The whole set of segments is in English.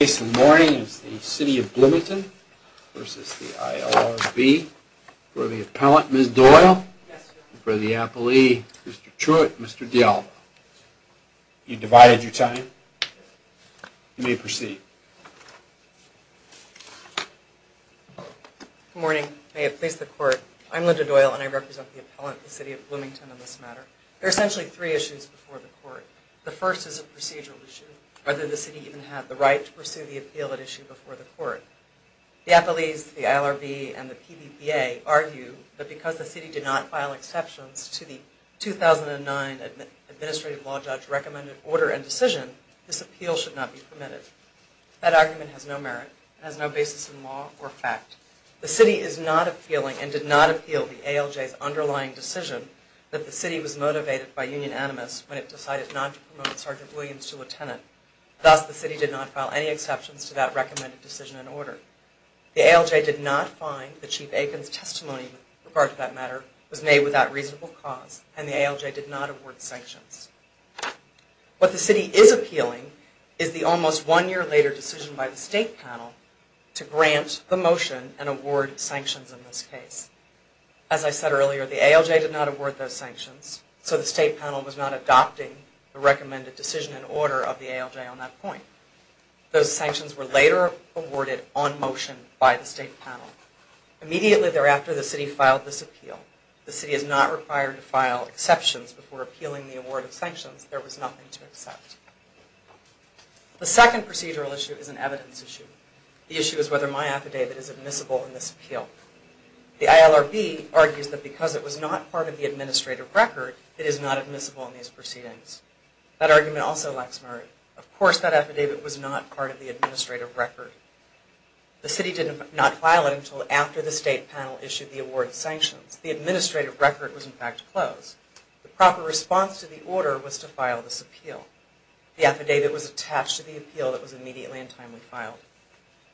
The case this morning is the City of Bloomington v. the ILRB. For the appellant, Ms. Doyle, and for the appellee, Mr. Truitt and Mr. D'Alva. You divided your time. You may proceed. Good morning. May it please the Court, I'm Linda Doyle and I represent the appellant, the City of Bloomington, on this matter. There are essentially three issues before the Court. The first is a procedural issue. Whether the City even had the right to pursue the appeal at issue before the Court. The appellees, the ILRB, and the PBPA argue that because the City did not file exceptions to the 2009 Administrative Law Judge recommended order and decision, this appeal should not be permitted. That argument has no merit. It has no basis in law or fact. The City is not appealing and did not appeal the ALJ's underlying decision that the City was motivated by Union Animus when it decided not to promote Sgt. Williams to lieutenant. Thus, the City did not file any exceptions to that recommended decision and order. The ALJ did not find that Chief Aiken's testimony with regard to that matter was made without reasonable cause and the ALJ did not award sanctions. What the City is appealing is the almost one year later decision by the State panel to grant the motion and award sanctions in this case. As I said earlier, the ALJ did not award those sanctions, so the State panel was not adopting the recommended decision and order of the ALJ on that point. Those sanctions were later awarded on motion by the State panel. Immediately thereafter, the City filed this appeal. The City is not required to file exceptions before appealing the award of sanctions. There was nothing to accept. The second procedural issue is an evidence issue. The issue is whether my affidavit is admissible in this appeal. The ILRB argues that because it was not part of the Administrative Record, it is not admissible in these proceedings. That argument also lacks merit. Of course that affidavit was not part of the Administrative Record. The City did not file it until after the State panel issued the award of sanctions. The Administrative Record was in fact closed. The proper response to the order was to file this appeal. The affidavit was attached to the appeal that was immediately in time to be filed.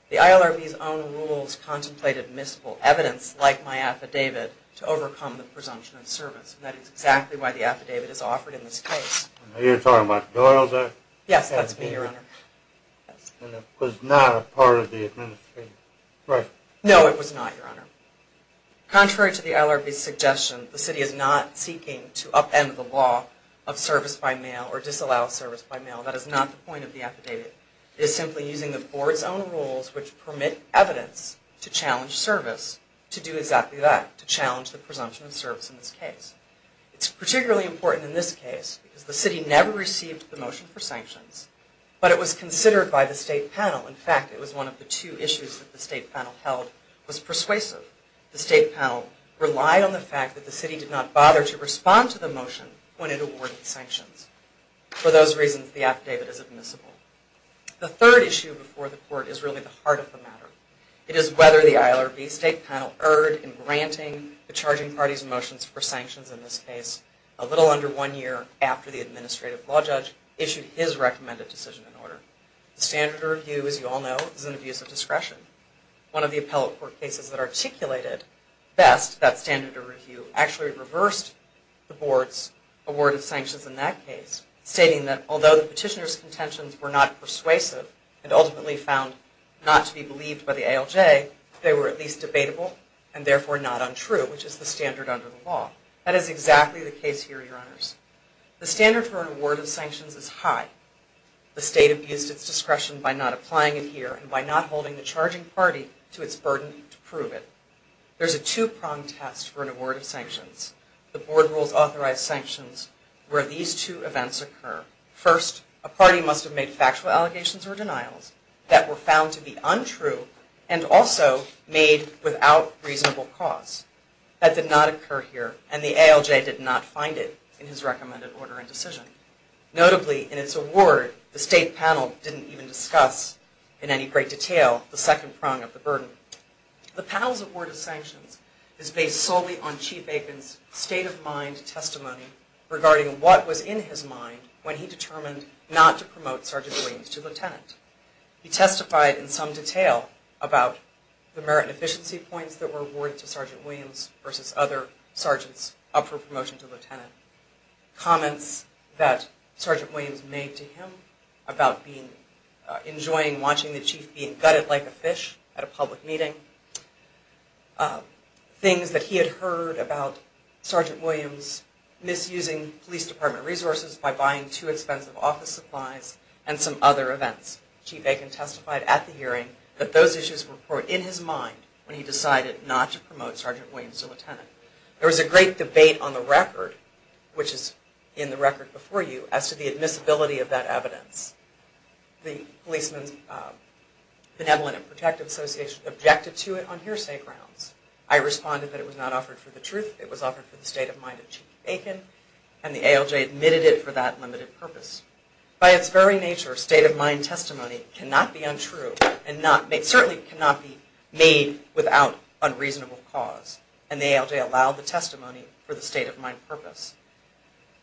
The ILRB's own rules contemplated admissible evidence like my affidavit to overcome the presumption of service. And that is exactly why the affidavit is offered in this case. Are you talking about Doyle's affidavit? Yes, that's me, Your Honor. And it was not a part of the Administrative Record? No, it was not, Your Honor. Contrary to the ILRB's suggestion, the City is not seeking to upend the law of service by mail or disallow service by mail. That is not the point of the affidavit. It is simply using the Board's own rules which permit evidence to challenge service to do exactly that, to challenge the presumption of service in this case. It's particularly important in this case because the City never received the motion for sanctions, but it was considered by the State Panel. In fact, it was one of the two issues that the State Panel held was persuasive. The State Panel relied on the fact that the City did not bother to respond to the motion when it awarded sanctions. For those reasons, the affidavit is admissible. The third issue before the Court is really the heart of the matter. It is whether the ILRB State Panel erred in granting the charging party's motions for sanctions in this case a little under one year after the Administrative Law Judge issued his recommended decision and order. The standard of review, as you all know, is an abuse of discretion. One of the appellate court cases that articulated best that standard of review actually reversed the Board's award of sanctions in that case, stating that although the petitioner's contentions were not persuasive and ultimately found not to be believed by the ALJ, they were at least debatable and therefore not untrue, which is the standard under the law. That is exactly the case here, Your Honors. The standard for an award of sanctions is high. The State abused its discretion by not applying it here and by not holding the charging party to its burden to prove it. There is a two-pronged test for an award of sanctions. The Board rules authorized sanctions where these two events occur. First, a party must have made factual allegations or denials that were found to be untrue and also made without reasonable cause. That did not occur here and the ALJ did not find it in his recommended order and decision. Notably, in its award, the State panel didn't even discuss in any great detail the second prong of the burden. The panel's award of sanctions is based solely on Chief Aiken's state-of-mind testimony regarding what was in his mind when he determined not to promote Sergeant Williams to lieutenant. He testified in some detail about the merit and efficiency points that were awarded to Sergeant Williams versus other sergeants up for promotion to lieutenant. Comments that Sergeant Williams made to him about enjoying watching the chief being gutted like a fish at a public meeting. Things that he had heard about Sergeant Williams misusing police department resources by buying too expensive office supplies and some other events. Chief Aiken testified at the hearing that those issues were in his mind when he decided not to promote Sergeant Williams to lieutenant. There was a great debate on the record, which is in the record before you, as to the admissibility of that evidence. The Policeman's Benevolent and Protective Association objected to it on hearsay grounds. I responded that it was not offered for the truth, it was offered for the state of mind of Chief Aiken and the ALJ admitted it for that limited purpose. By its very nature, state-of-mind testimony cannot be untrue and certainly cannot be made without unreasonable cause. And the ALJ allowed the testimony for the state-of-mind purpose.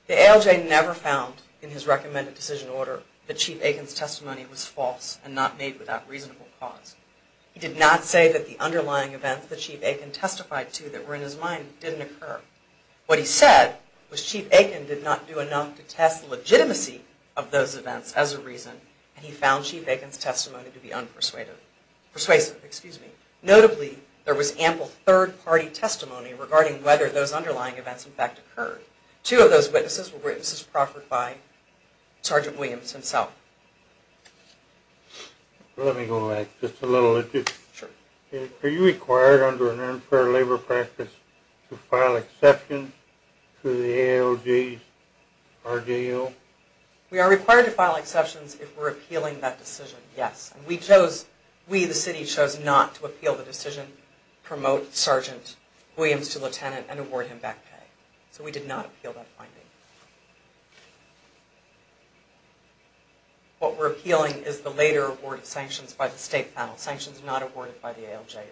The ALJ never found in his recommended decision order that Chief Aiken's testimony was false and not made without reasonable cause. He did not say that the underlying events that Chief Aiken testified to that were in his mind didn't occur. What he said was Chief Aiken did not do enough to test the legitimacy of those events as a reason and he found Chief Aiken's testimony to be unpersuasive. Notably, there was ample third-party testimony regarding whether those underlying events in fact occurred. Two of those witnesses were witnesses proffered by Sergeant Williams himself. Let me go back just a little. Sure. Are you required under an unfair labor practice to file exceptions to the ALJ's RDO? We are required to file exceptions if we're appealing that decision, yes. We chose, we the city, chose not to appeal the decision, promote Sergeant Williams to lieutenant and award him back pay. So we did not appeal that finding. What we're appealing is the later award of sanctions by the state panel, sanctions not awarded by the ALJ or I.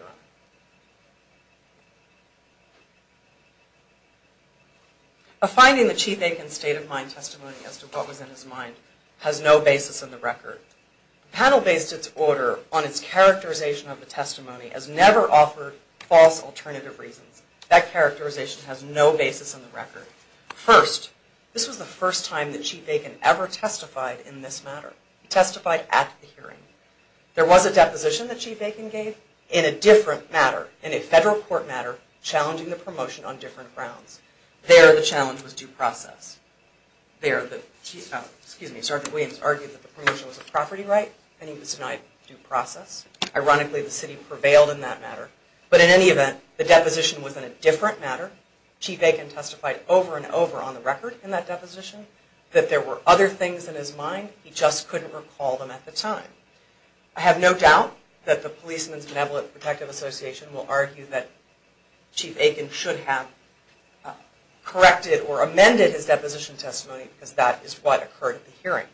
A finding that Chief Aiken's state of mind testimony as to what was in his mind has no basis in the record. The panel based its order on its characterization of the testimony as never offered false alternative reasons. That characterization has no basis in the record. First, this was the first time that Chief Aiken ever testified in this matter. He testified at the hearing. There was a deposition that Chief Aiken gave in a different matter, in a federal court matter, challenging the promotion on different grounds. There, the challenge was due process. There, Sergeant Williams argued that the promotion was a property right and it was not due process. Ironically, the city prevailed in that matter. But in any event, the deposition was in a different matter. Chief Aiken testified over and over on the record in that deposition that there were other things in his mind. He just couldn't recall them at the time. I have no doubt that the Policeman's Benevolent Protective Association will argue that Chief Aiken should have corrected or amended his deposition testimony because that is what occurred at the hearing.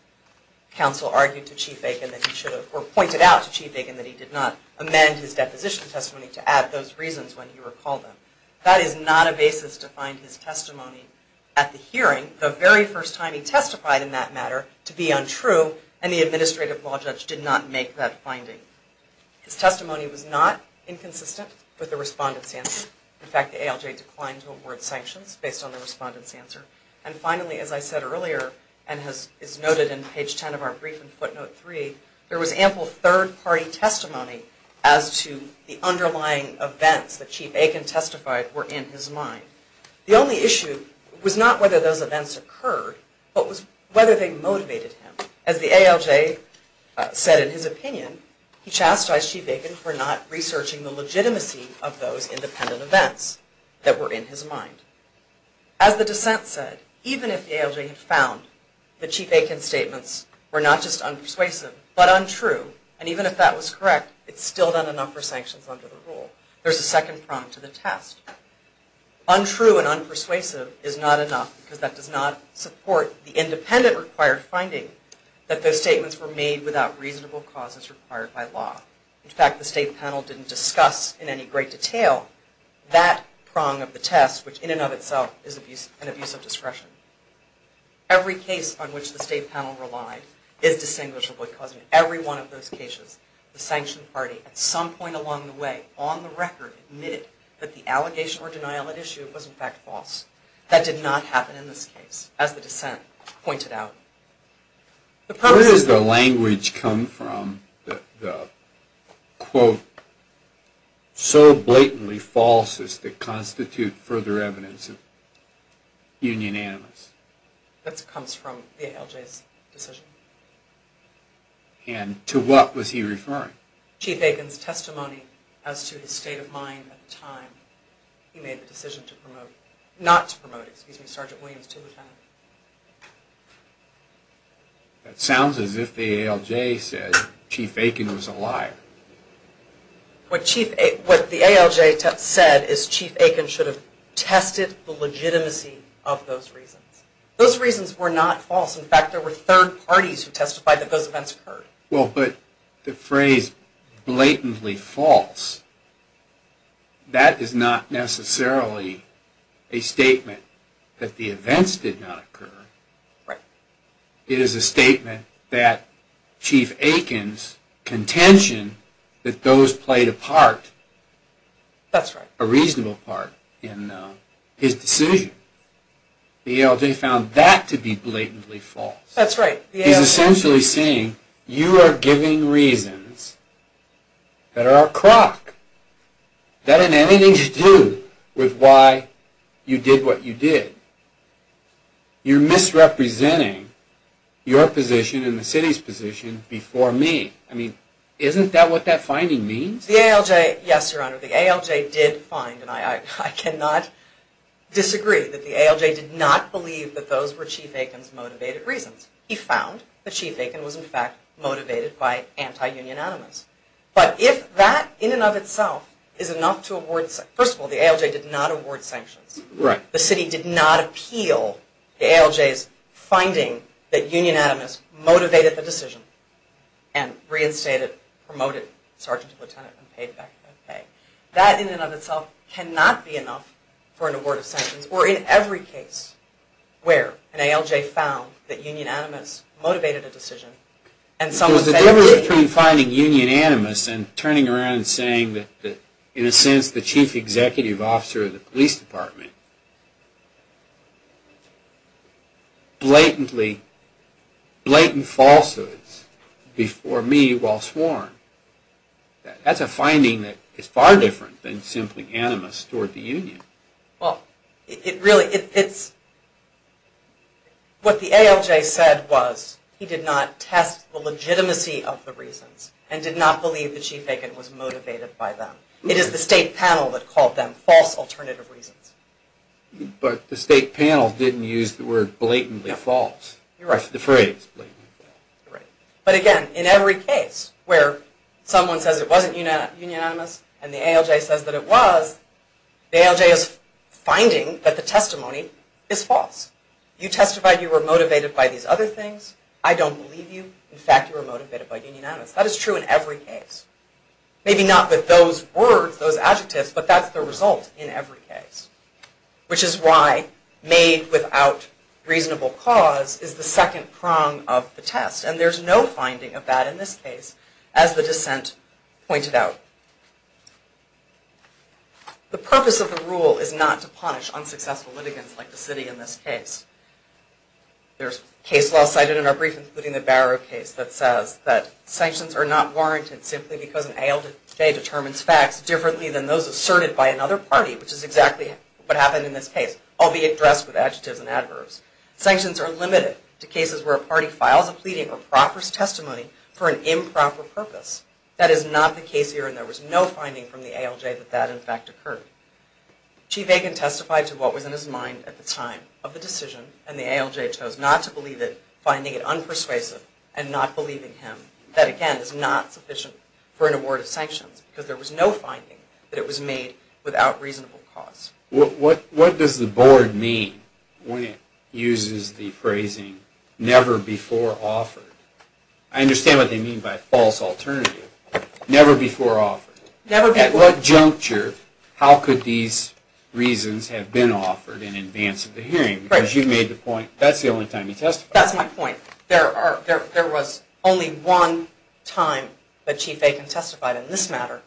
Council argued to Chief Aiken that he should have, or pointed out to Chief Aiken that he did not amend his deposition testimony to add those reasons when he recalled them. That is not a basis to find his testimony at the hearing, the very first time he testified in that matter, to be untrue, and the Administrative Law Judge did not make that finding. His testimony was not inconsistent with the Respondent's answer. In fact, the ALJ declined to award sanctions based on the Respondent's answer. And finally, as I said earlier, and is noted in page 10 of our brief in footnote 3, there was ample third-party testimony as to the underlying events that Chief Aiken testified were in his mind. The only issue was not whether those events occurred, but was whether they motivated him. As the ALJ said in his opinion, he chastised Chief Aiken for not researching the legitimacy of those independent events that were in his mind. As the dissent said, even if the ALJ had found that Chief Aiken's statements were not just unpersuasive, but untrue, and even if that was correct, it's still not enough for sanctions under the rule. There's a second prong to the test. Untrue and unpersuasive is not enough because that does not support the independent required finding that those statements were made without reasonable causes required by law. In fact, the State Panel didn't discuss in any great detail that prong of the test, which in and of itself is an abuse of discretion. Every case on which the State Panel relied is distinguishable, causing every one of those cases, the sanctioned party at some point along the way, on the record, admitted that the allegation or denial at issue was in fact false. That did not happen in this case, as the dissent pointed out. So blatantly false as to constitute further evidence of union animus. That comes from the ALJ's decision. And to what was he referring? Chief Aiken's testimony as to his state of mind at the time he made the decision to promote, not to promote, excuse me, Sergeant Williams to lieutenant. That sounds as if the ALJ said Chief Aiken was a liar. What the ALJ said is Chief Aiken should have tested the legitimacy of those reasons. Those reasons were not false. In fact, there were third parties who testified that those events occurred. Well, but the phrase blatantly false, that is not necessarily a statement that the events did not occur. It is a statement that Chief Aiken's contention that those played a part, a reasonable part, in his decision. The ALJ found that to be blatantly false. He's essentially saying you are giving reasons that are a crock, that have anything to do with why you did what you did. You're misrepresenting your position and the city's position before me. Isn't that what that finding means? Yes, Your Honor, the ALJ did find, and I cannot disagree, that the ALJ did not believe that those were Chief Aiken's motivated reasons. He found that Chief Aiken was, in fact, motivated by anti-union animus. But if that in and of itself is enough to award, first of all, the ALJ did not award sanctions. The city did not appeal the ALJ's finding that union animus motivated the decision and reinstated, promoted Sergeant Lieutenant and paid back that pay. That in and of itself cannot be enough for an award of sanctions. Or in every case where an ALJ found that union animus motivated a decision and someone said... The difference between finding union animus and turning around and saying that, in a sense, the Chief Executive Officer of the Police Department blatantly, blatant falsehoods before me while sworn, that's a finding that is far different than simply animus toward the union. Well, it really, it's... What the ALJ said was he did not test the legitimacy of the reasons and did not believe that Chief Aiken was motivated by them. It is the State Panel that called them false alternative reasons. But the State Panel didn't use the word blatantly false. You're right. The phrase blatantly false. You're right. But again, in every case where someone says it wasn't union animus and the ALJ says that it was, the ALJ is finding that the testimony is false. You testified you were motivated by these other things. I don't believe you. In fact, you were motivated by union animus. That is true in every case. Maybe not with those words, those adjectives, but that's the result in every case. Which is why made without reasonable cause is the second prong of the test. And there's no finding of that in this case, as the dissent pointed out. The purpose of the rule is not to punish unsuccessful litigants like the city in this case. There's case law cited in our brief, including the Barrow case, that says that sanctions are not warranted simply because an ALJ determines facts differently than those asserted by another party, which is exactly what happened in this case, albeit dressed with adjectives and adverbs. Sanctions are limited to cases where a party files a pleading or proffers testimony for an improper purpose. That is not the case here, and there was no finding from the ALJ that that, in fact, occurred. Chief Aiken testified to what was in his mind at the time of the decision, and the ALJ chose not to believe it, finding it unpersuasive, and not believing him. That, again, is not sufficient for an award of sanctions, because there was no finding that it was made without reasonable cause. What does the board mean when it uses the phrasing, never before offered? I understand what they mean by false alternative. Never before offered. At what juncture, how could these reasons have been offered in advance of the hearing? Because you made the point, that's the only time you testified. That's my point. There was only one time that Chief Aiken testified in this matter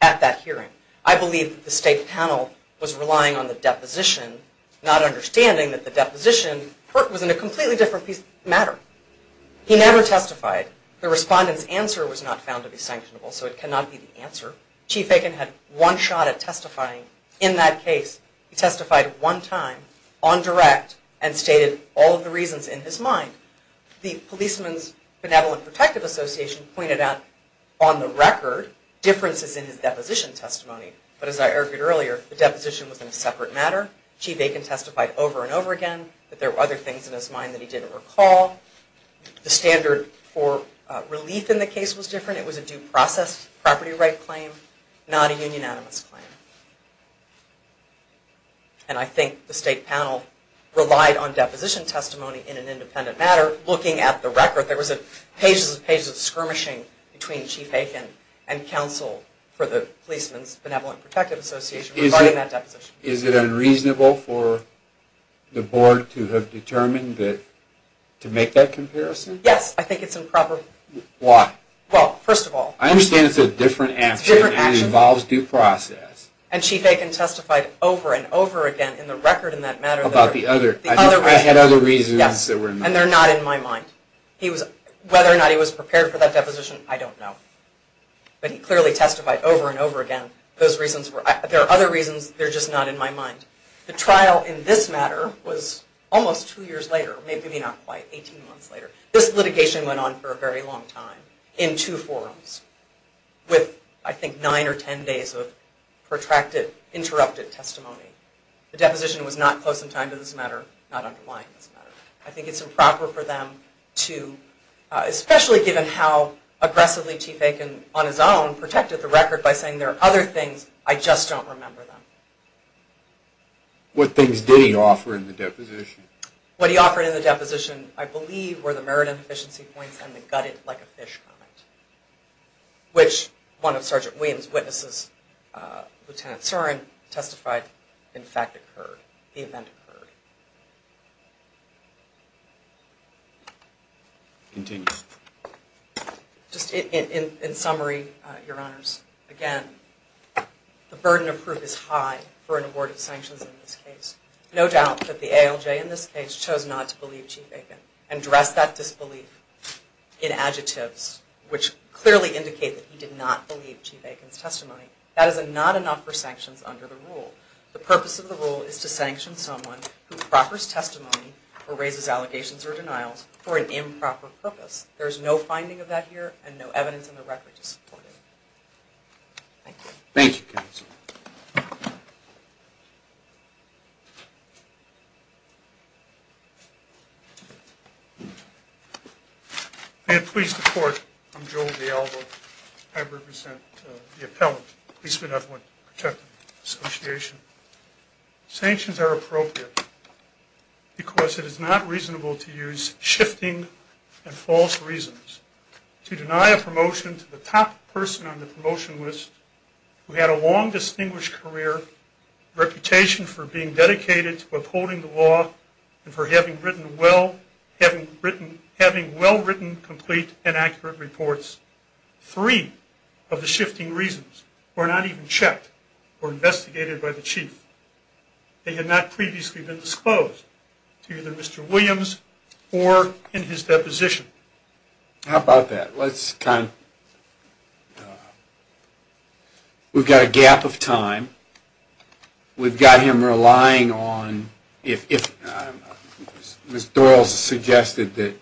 at that hearing. I believe that the state panel was relying on the deposition, not understanding that the deposition was in a completely different matter. He never testified. The respondent's answer was not found to be sanctionable, so it cannot be the answer. Chief Aiken had one shot at testifying in that case. He testified one time, on direct, and stated all of the reasons in his mind. The Policeman's Benevolent Protective Association pointed out, on the record, differences in his deposition testimony. But as I argued earlier, the deposition was in a separate matter. Chief Aiken testified over and over again that there were other things in his mind that he didn't recall. The standard for relief in the case was different. It was a due process, property right claim, not a union animus claim. And I think the state panel relied on deposition testimony in an independent matter, looking at the record. There was pages and pages of skirmishing between Chief Aiken and counsel for the Policeman's Benevolent Protective Association regarding that deposition. Is it unreasonable for the board to have determined to make that comparison? Yes, I think it's improper. Why? Well, first of all. I understand it's a different action and it involves due process. And Chief Aiken testified over and over again in the record in that matter. About the other reasons. Yes, and they're not in my mind. Whether or not he was prepared for that deposition, I don't know. But he clearly testified over and over again. There are other reasons, they're just not in my mind. The trial in this matter was almost two years later, maybe not quite, 18 months later. This litigation went on for a very long time, in two forums, with I think nine or ten days of protracted, interrupted testimony. The deposition was not close in time to this matter, not underlying this matter. I think it's improper for them to, especially given how aggressively Chief Aiken on his own protected the record by saying there are other things, I just don't remember them. What things did he offer in the deposition? What he offered in the deposition, I believe, were the merit and efficiency points and the gutted like a fish comment. Which one of Sergeant Williams' witnesses, Lieutenant Sorin, testified in fact occurred, the event occurred. Continue. Just in summary, Your Honors, again, the burden of proof is high for an award of sanctions in this case. No doubt that the ALJ in this case chose not to believe Chief Aiken and dressed that disbelief in adjectives, which clearly indicate that he did not believe Chief Aiken's testimony. That is not enough for sanctions under the rule. The purpose of the rule is to sanction someone who proffers testimony or raises allegations or denials for an improper purpose. There is no finding of that here and no evidence in the record to support it. Thank you. Thank you, Counsel. May it please the Court, I'm Joel DiAlvo. I represent the Appellant, Policeman Effluent Protection Association. Sanctions are appropriate because it is not reasonable to use shifting and false reasons to deny a promotion to the top person on the promotion list who had a long, distinguished career, reputation for being dedicated to upholding the law and for having well-written, complete, and accurate reports. Three of the shifting reasons were not even checked or investigated by the Chief. They had not previously been disclosed to either Mr. Williams or in his deposition. How about that? We've got a gap of time. We've got him relying on, if Ms. Doyle suggested that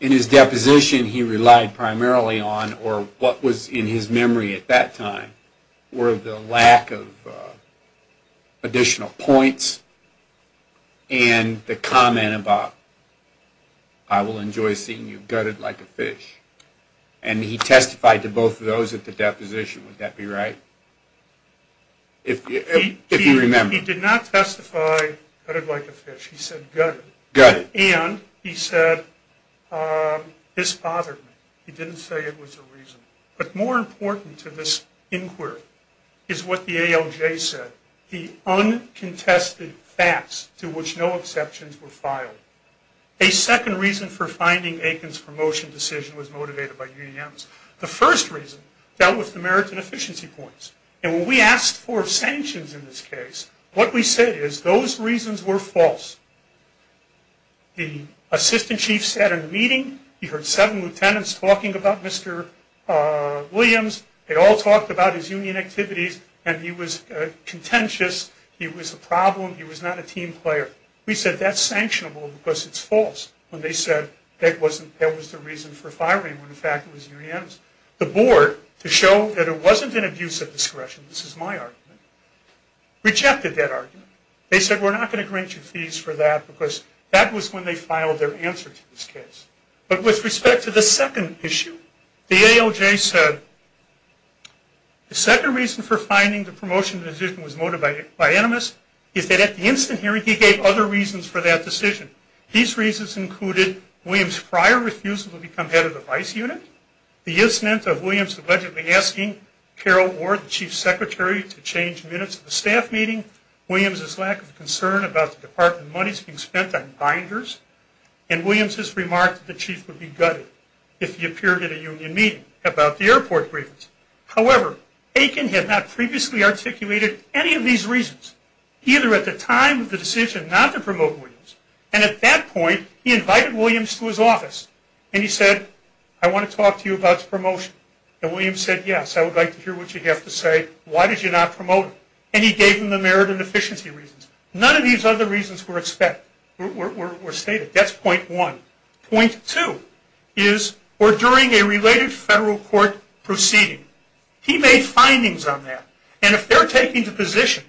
in his deposition he relied primarily on, or what was in his memory at that time were the lack of additional points and the comment about, I will enjoy seeing you gutted like a fish. And he testified to both of those at the deposition. Would that be right? If you remember. He did not testify gutted like a fish. He said gutted. Gutted. And he said, this bothered me. He didn't say it was a reason. But more important to this inquiry is what the ALJ said. The uncontested facts to which no exceptions were filed. A second reason for finding Aiken's promotion decision was motivated by UDM's. The first reason dealt with the merit and efficiency points. And when we asked for sanctions in this case, what we said is those reasons were false. The assistant chief sat in a meeting. He heard seven lieutenants talking about Mr. Williams. They all talked about his union activities. And he was contentious. He was a problem. He was not a team player. We said that's sanctionable because it's false. When they said that was the reason for firing when in fact it was UDM's. The board, to show that it wasn't an abuse of discretion, this is my argument, rejected that argument. They said we're not going to grant you fees for that because that was when they filed their answer to this case. But with respect to the second issue, the ALJ said the second reason for finding the promotion decision was motivated by UDM's is that at the instant hearing he gave other reasons for that decision. These reasons included Williams' prior refusal to become head of the vice unit. The instant of Williams allegedly asking Carol Ward, the chief secretary, to change minutes of the staff meeting. Williams' lack of concern about the department monies being spent on binders. And Williams' remark that the chief would be gutted if he appeared at a union meeting about the airport briefings. However, Aiken had not previously articulated any of these reasons either at the time of the decision not to promote Williams. And at that point he invited Williams to his office. And he said, I want to talk to you about the promotion. And Williams said, yes, I would like to hear what you have to say. Why did you not promote him? And he gave him the merit and efficiency reasons. None of these other reasons were stated. That's point one. Point two is, or during a related federal court proceeding, he made findings on that. And if they're taking the position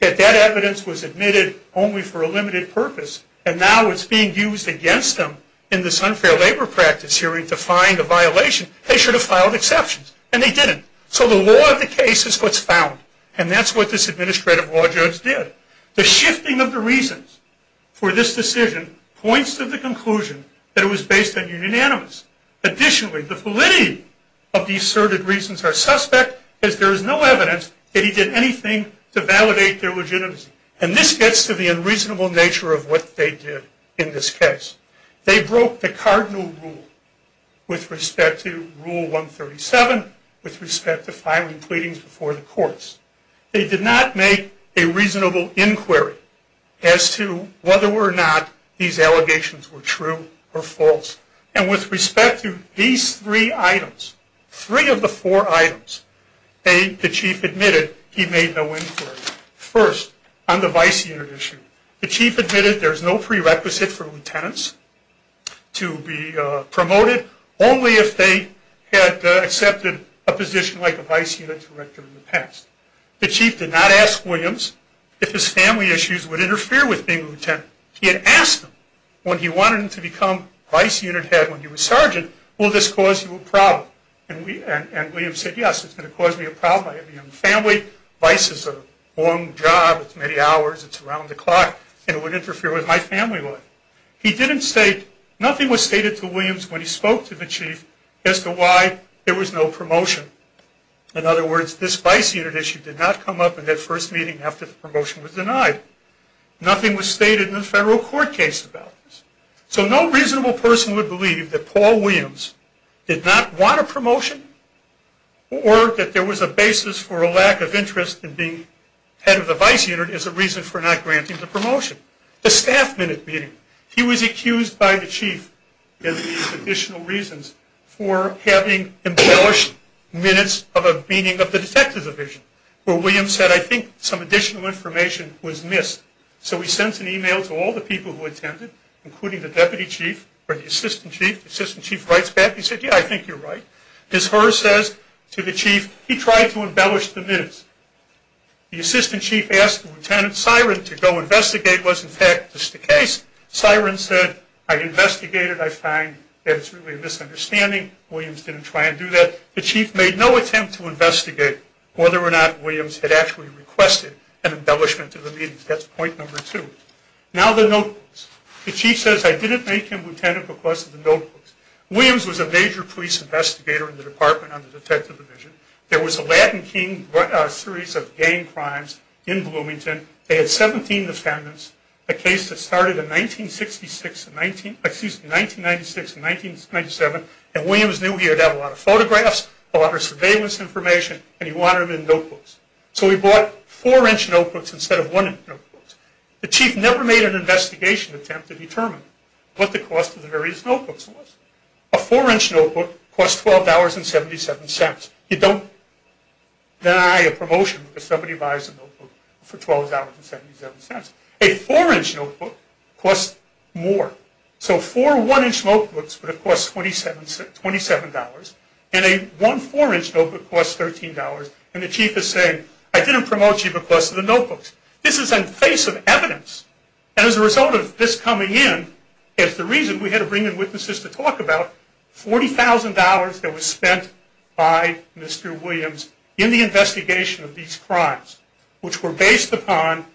that that evidence was admitted only for a limited purpose, and now it's being used against them in this unfair labor practice hearing to find a violation, they should have filed exceptions. And they didn't. So the law of the case is what's found. And that's what this administrative law judge did. The shifting of the reasons for this decision points to the conclusion that it was based on unanimous. Additionally, the validity of the asserted reasons are suspect, as there is no evidence that he did anything to validate their legitimacy. And this gets to the unreasonable nature of what they did in this case. They broke the cardinal rule with respect to Rule 137, with respect to filing pleadings before the courts. They did not make a reasonable inquiry as to whether or not these allegations were true or false. And with respect to these three items, three of the four items, the chief admitted he made no inquiry. First, on the vice unit issue, the chief admitted there's no prerequisite for lieutenants to be promoted, only if they had accepted a position like a vice unit director in the past. The chief did not ask Williams if his family issues would interfere with being a lieutenant. He had asked him when he wanted him to become vice unit head when he was sergeant, will this cause you a problem? And Williams said, yes, it's going to cause me a problem. I have a young family. Vice is a long job. It's many hours. It's around the clock. And it would interfere with my family life. He didn't state, nothing was stated to Williams when he spoke to the chief as to why there was no promotion. In other words, this vice unit issue did not come up in that first meeting after the promotion was denied. Nothing was stated in the federal court case about this. So no reasonable person would believe that Paul Williams did not want a promotion or that there was a basis for a lack of interest in being head of the vice unit as a reason for not granting the promotion. The staff minute meeting, he was accused by the chief of additional reasons for having embellished minutes of a meeting of the detective division where Williams said, I think some additional information was missed. So he sends an email to all the people who attended, including the deputy chief or the assistant chief. The assistant chief writes back. He said, yeah, I think you're right. His heart says to the chief, he tried to embellish the minutes. The assistant chief asked Lieutenant Siren to go investigate what in fact was the case. Siren said, I investigated. I find that it's really a misunderstanding. Williams didn't try and do that. The chief made no attempt to investigate whether or not Williams had actually requested an embellishment of the minutes. That's point number two. Now the notebooks. The chief says, I didn't make him, Lieutenant, request the notebooks. Williams was a major police investigator in the department on the detective division. There was a Latin King series of gang crimes in Bloomington. They had 17 defendants, a case that started in 1996 and 1997, and Williams knew he had to have a lot of photographs, a lot of surveillance information, and he wanted them in notebooks. So he bought four-inch notebooks instead of one-inch notebooks. The chief never made an investigation attempt to determine what the cost of the various notebooks was. A four-inch notebook costs $12.77. You don't deny a promotion if somebody buys a notebook for $12.77. A four-inch notebook costs more. So four one-inch notebooks would have cost $27. And a one four-inch notebook costs $13. And the chief is saying, I didn't promote you because of the notebooks. This is in the face of evidence. And as a result of this coming in, as the reason we had to bring in witnesses to talk about, $40,000 that was spent by Mr. Williams in the investigation of these crimes, which were based upon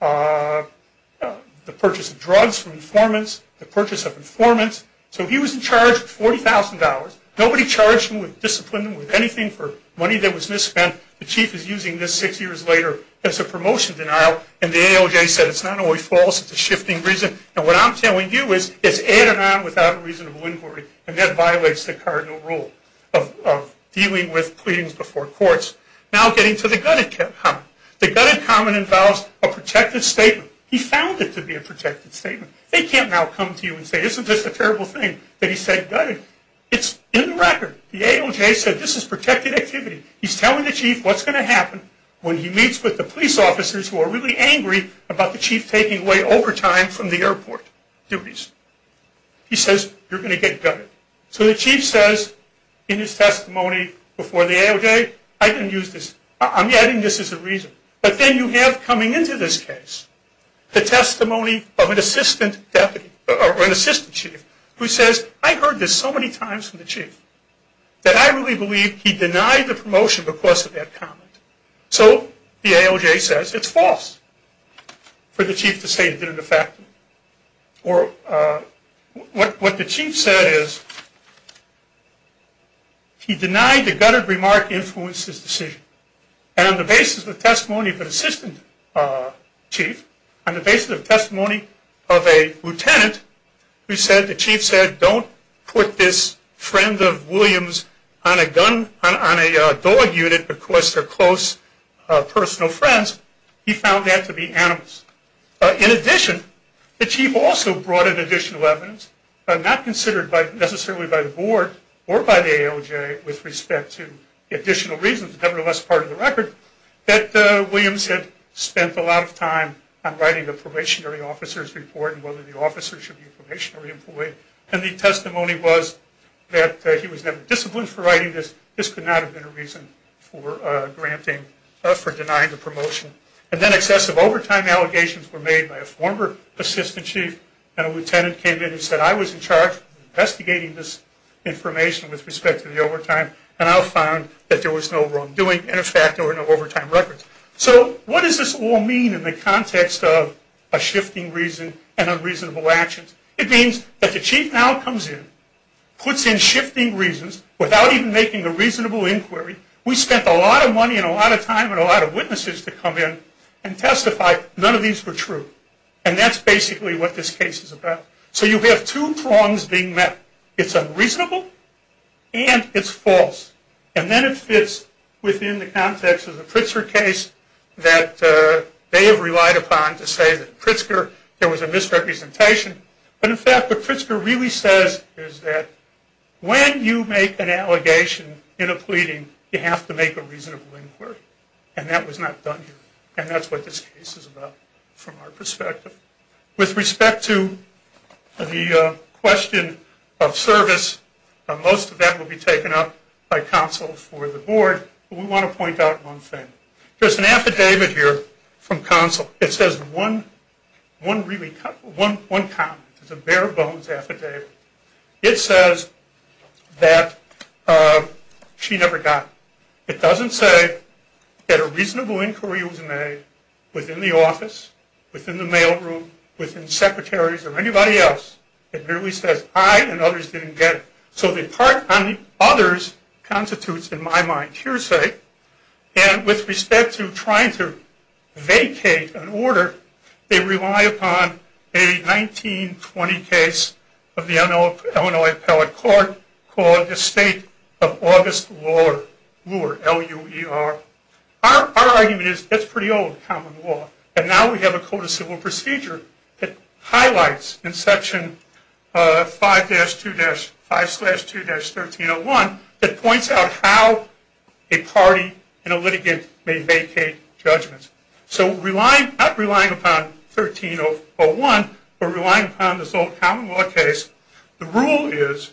the purchase of drugs from informants, the purchase of informants. So he was in charge of $40,000. Nobody charged him with discipline, with anything for money that was misspent. The chief is using this six years later as a promotion denial, and the ALJ said it's not only false, it's a shifting reason. And what I'm telling you is it's added on without a reasonable inquiry, and that violates the cardinal rule of dealing with pleadings before courts. Now getting to the gutted comment. The gutted comment involves a protected statement. He found it to be a protected statement. They can't now come to you and say, isn't this a terrible thing that he said gutted. It's in the record. The ALJ said this is protected activity. He's telling the chief what's going to happen when he meets with the police officers who are really angry about the chief taking away overtime from the airport duties. He says you're going to get gutted. So the chief says in his testimony before the ALJ, I didn't use this. I'm adding this as a reason. But then you have coming into this case the testimony of an assistant chief who says, I heard this so many times from the chief that I really believe he denied the promotion because of that comment. So the ALJ says it's false for the chief to say it didn't affect him. What the chief said is he denied the gutted remark influenced his decision. And on the basis of the testimony of an assistant chief, on the basis of the testimony of a lieutenant, the chief said don't put this friend of Williams on a dog unit because they're close personal friends. He found that to be animus. In addition, the chief also brought in additional evidence, not considered necessarily by the board or by the ALJ with respect to additional reasons, nevertheless part of the record, that Williams had spent a lot of time on writing the probationary officer's report and whether the officer should be probationary employed. And the testimony was that he was never disciplined for writing this. This could not have been a reason for denying the promotion. And then excessive overtime allegations were made by a former assistant chief and a lieutenant came in and said I was in charge of investigating this information with respect to the overtime and I found that there was no wrongdoing and in fact there were no overtime records. So what does this all mean in the context of a shifting reason and unreasonable actions? It means that the chief now comes in, puts in shifting reasons without even making a reasonable inquiry. We spent a lot of money and a lot of time and a lot of witnesses to come in and testify none of these were true. And that's basically what this case is about. So you have two prongs being met. It's unreasonable and it's false. And then it fits within the context of the Pritzker case that they have relied upon to say that Pritzker, there was a misrepresentation. But in fact what Pritzker really says is that when you make an allegation in a pleading you have to make a reasonable inquiry. And that was not done here. And that's what this case is about from our perspective. With respect to the question of service, most of that will be taken up by counsel for the board. But we want to point out one thing. There's an affidavit here from counsel. It says one comment. It's a bare bones affidavit. It says that she never got it. It doesn't say that a reasonable inquiry was made within the office, within the mailroom, within secretaries or anybody else. It merely says I and others didn't get it. So the part on others constitutes in my mind hearsay. And with respect to trying to vacate an order, they rely upon a 1920 case of the Illinois Appellate Court called the State of August Luer, L-U-E-R. Our argument is that's pretty old common law. And now we have a code of civil procedure that highlights in Section 5-2-5-2-1301 that points out how a party in a litigant may vacate judgments. So not relying upon 1301, but relying upon this old common law case, the rule is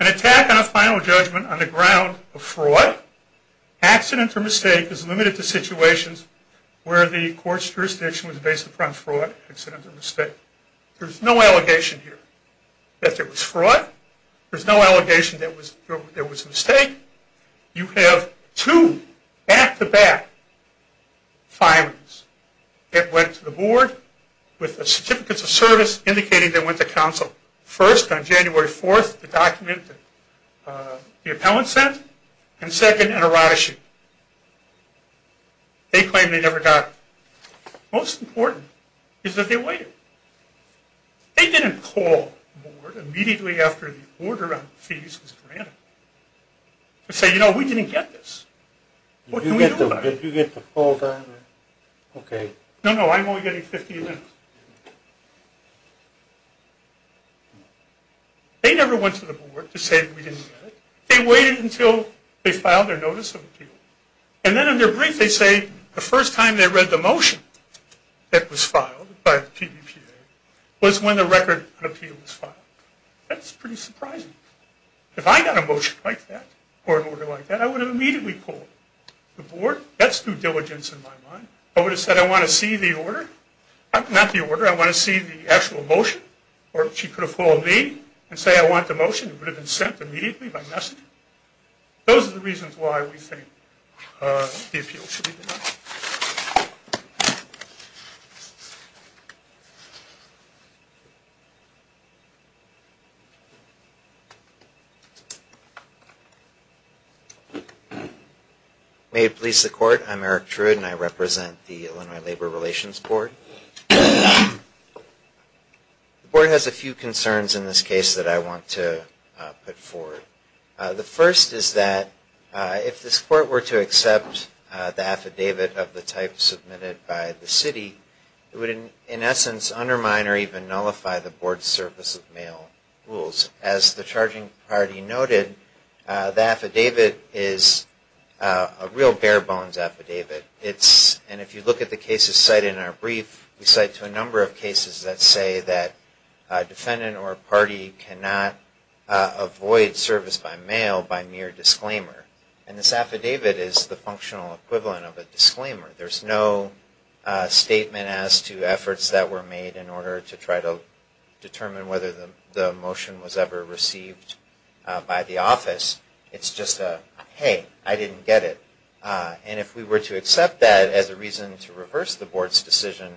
an attack on a final judgment on the ground of fraud, accident or mistake is limited to situations where the court's jurisdiction was based upon fraud, accident or mistake. There's no allegation here that there was fraud. There's no allegation that there was a mistake. You have two back-to-back filings. It went to the board with certificates of service indicating they went to counsel. First, on January 4th, the document the appellant sent. And second, an errata sheet. They claim they never got it. Most important is that they waited. They didn't call the board immediately after the order on fees was granted to say, you know, we didn't get this. What can we do about it? Did you get the full document? Okay. No, no, I'm only getting 15 minutes. They never went to the board to say we didn't get it. They waited until they filed their notice of appeal. And then in their brief they say the first time they read the motion that was filed by the PBPA was when the record of appeal was filed. That's pretty surprising. If I got a motion like that or an order like that, I would have immediately called the board. That's due diligence in my mind. I would have said I want to see the order. Not the order. I want to see the actual motion. Or she could have called me and said I want the motion. It would have been sent immediately by messenger. Those are the reasons why we think the appeal should be denied. Thank you. May it please the court. I'm Eric Druid and I represent the Illinois Labor Relations Board. The board has a few concerns in this case that I want to put forward. The first is that if this court were to accept the affidavit of the type submitted by the city, it would in essence undermine or even nullify the board's service of mail rules. As the charging party noted, the affidavit is a real bare bones affidavit. And if you look at the cases cited in our brief, we cite a number of cases that say that a defendant or a party cannot avoid service by mail by mere disclaimer. And this affidavit is the functional equivalent of a disclaimer. There's no statement as to efforts that were made in order to try to determine whether the motion was ever received by the office. It's just a, hey, I didn't get it. And if we were to accept that as a reason to reverse the board's decision,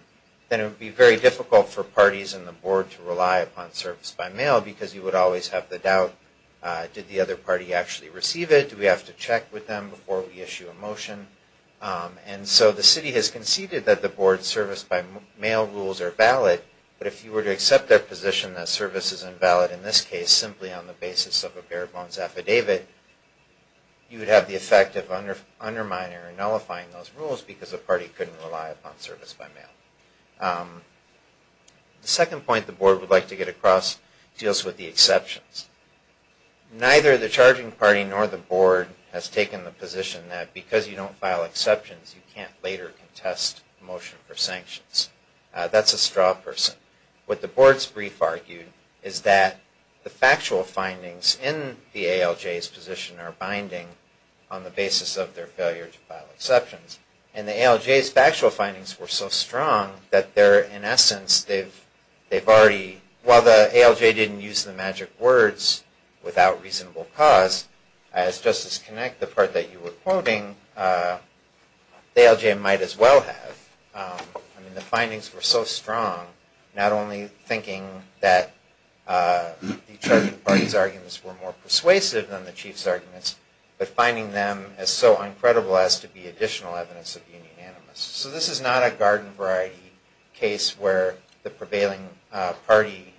then it would be very difficult for parties in the board to rely upon service by mail because you would always have the doubt, did the other party actually receive it? Do we have to check with them before we issue a motion? And so the city has conceded that the board's service by mail rules are valid, but if you were to accept their position that service is invalid in this case simply on the basis of a bare bones affidavit, you would have the effect of undermining or nullifying those rules because the party couldn't rely upon service by mail. The second point the board would like to get across deals with the exceptions. Neither the charging party nor the board has taken the position that because you don't file exceptions you can't later contest motion for sanctions. That's a straw person. What the board's brief argued is that the factual findings in the ALJ's position are binding on the basis of their failure to file exceptions. And the ALJ's factual findings were so strong that they're, in essence, they've already, while the ALJ didn't use the magic words without reasonable cause, as Justice Connick, the part that you were quoting, the ALJ might as well have. I mean, the findings were so strong, not only thinking that the charging party's arguments were more persuasive than the chief's arguments, but finding them as so uncredible as to be additional evidence of being unanimous. So this is not a garden variety case where the prevailing party,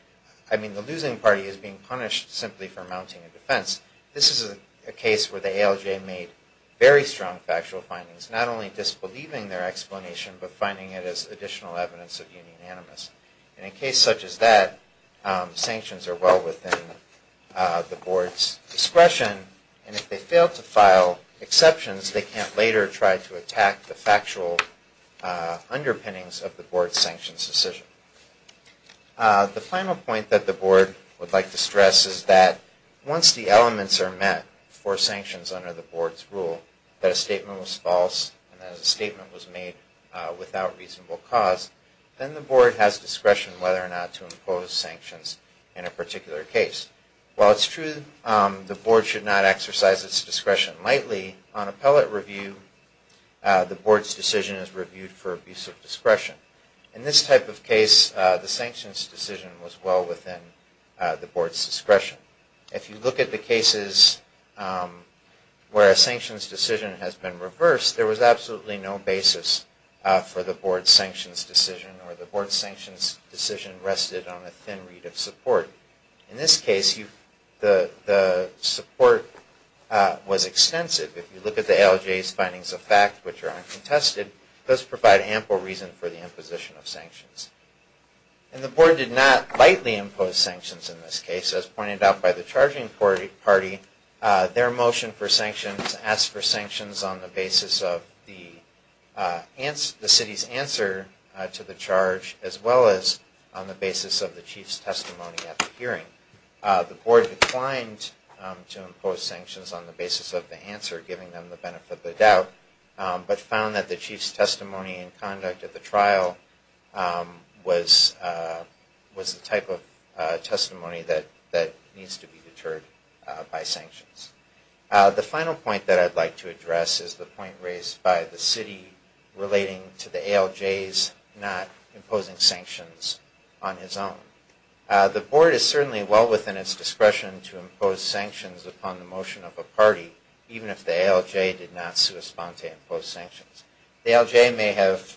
I mean the losing party, is being punished simply for mounting a defense. This is a case where the ALJ made very strong factual findings, not only disbelieving their explanation, but finding it as additional evidence of being unanimous. In a case such as that, sanctions are well within the board's discretion, and if they fail to file exceptions, they can't later try to attack the factual underpinnings of the board's sanctions decision. The final point that the board would like to stress is that once the elements are met for sanctions under the board's rule, that a statement was false and that a statement was made without reasonable cause, then the board has discretion whether or not to impose sanctions in a particular case. While it's true the board should not exercise its discretion lightly, on appellate review, the board's decision is reviewed for abuse of discretion. In this type of case, the sanctions decision was well within the board's discretion. If you look at the cases where a sanctions decision has been reversed, there was absolutely no basis for the board's sanctions decision, or the board's sanctions decision rested on a thin reed of support. In this case, the support was extensive. If you look at the ALJ's findings of fact, which are uncontested, those provide ample reason for the imposition of sanctions. And the board did not lightly impose sanctions in this case. As pointed out by the charging party, their motion for sanctions asked for sanctions on the basis of the city's answer to the charge, as well as on the basis of the chief's testimony at the hearing. The board declined to impose sanctions on the basis of the answer, giving them the benefit of the doubt, but found that the chief's testimony and conduct at the trial was the type of testimony that needs to be deterred by sanctions. The final point that I'd like to address is the point raised by the city relating to the ALJ's not imposing sanctions on his own. The board is certainly well within its discretion to impose sanctions upon the motion of a party, even if the ALJ did not correspond to impose sanctions. The ALJ may have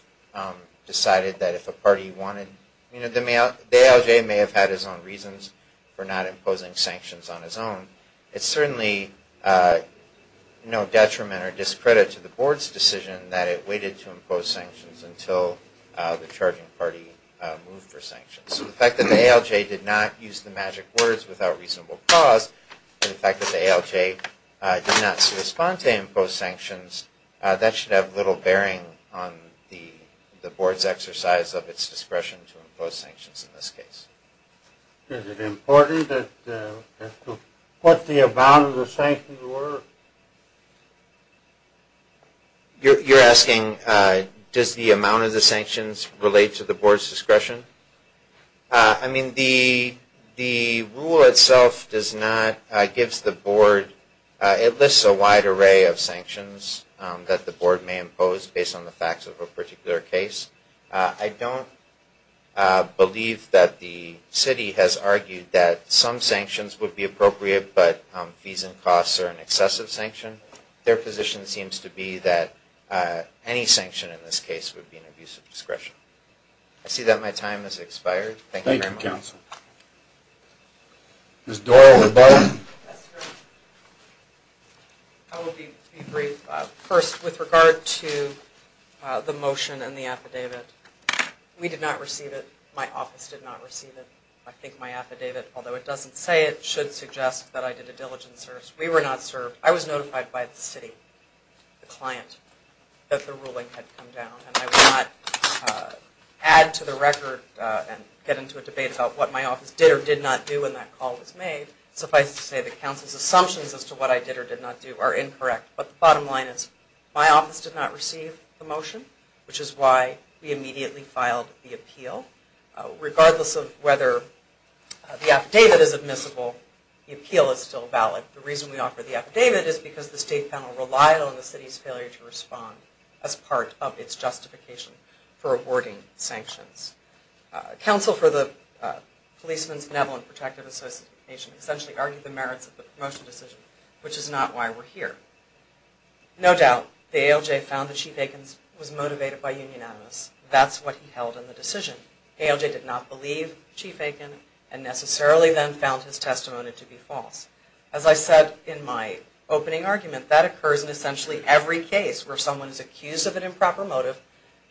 decided that if a party wanted, you know, the ALJ may have had his own reasons for not imposing sanctions on his own. It's certainly no detriment or discredit to the board's decision that it was obligated to impose sanctions until the charging party moved for sanctions. So the fact that the ALJ did not use the magic words without reasonable cause, and the fact that the ALJ did not correspond to impose sanctions, that should have little bearing on the board's exercise of its discretion to impose sanctions in this case. Is it important as to what the amount of the sanctions were? You're asking, does the amount of the sanctions relate to the board's discretion? I mean, the rule itself does not, gives the board, it lists a wide array of sanctions that the board may impose based on the facts of a particular case. I don't believe that the city has argued that some sanctions would be an abusive sanction. Their position seems to be that any sanction in this case would be an abusive discretion. I see that my time has expired. Thank you very much. I will be brief. First, with regard to the motion and the affidavit, we did not receive it. My office did not receive it. I think my affidavit, although it doesn't say it, should suggest that I did a diligent service. We were not served. I was notified by the city, the client, that the ruling had come down, and I will not add to the record and get into a debate about what my office did or did not do when that call was made. Suffice to say, the council's assumptions as to what I did or did not do are incorrect. But the bottom line is, my office did not receive the motion, which is why we offer the affidavit as admissible. The appeal is still valid. The reason we offer the affidavit is because the state panel relied on the city's failure to respond as part of its justification for awarding sanctions. Council for the Policeman's Benevolent Protective Association essentially argued the merits of the promotion decision, which is not why we're here. No doubt, the ALJ found that Chief Aikens was motivated by union animus. That's what he held in the decision. ALJ did not believe Chief Aiken, and necessarily then found his testimony to be false. As I said in my opening argument, that occurs in essentially every case where someone is accused of an improper motive,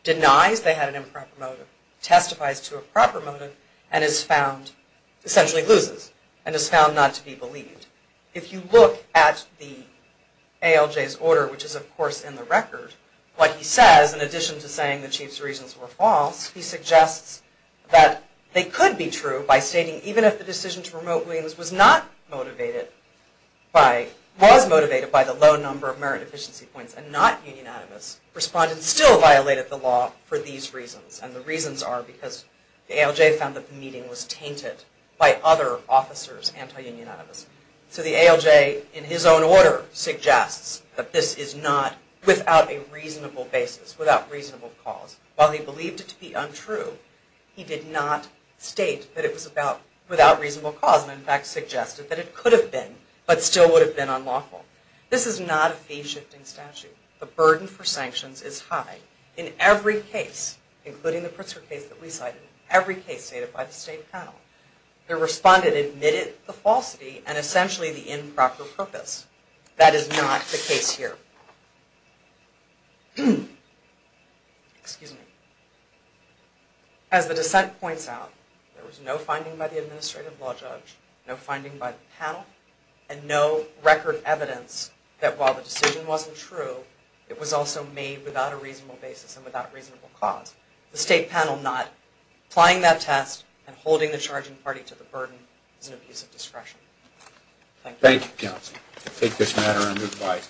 denies they had an improper motive, testifies to a proper motive, and is found, essentially loses, and is found not to be believed. If you look at the ALJ's order, which is of course in the record, what he says, in addition to saying the Chief's reasons were false, he suggests that they could be true by stating even if the decision to promote Williams was not motivated by, was motivated by the low number of merit efficiency points and not union animus, respondents still violated the law for these reasons. And the reasons are because the ALJ found that the meeting was tainted by other officers anti-union animus. So the ALJ, in his own order, suggests that this is not, without a reasonable cause, and in fact suggested that it could have been, but still would have been unlawful. This is not a fee-shifting statute. The burden for sanctions is high. In every case, including the Pritzker case that we cited, every case stated by the state panel, the respondent admitted the falsity and essentially the improper purpose. That is not the case here. Excuse me. As the dissent points out, there was no finding by the administrative law judge, no finding by the panel, and no record evidence that while the decision wasn't true, it was also made without a reasonable basis and without reasonable cause. The state panel not applying that test and holding the charging party to the burden is an abuse of discretion. Thank you. Thank you, counsel.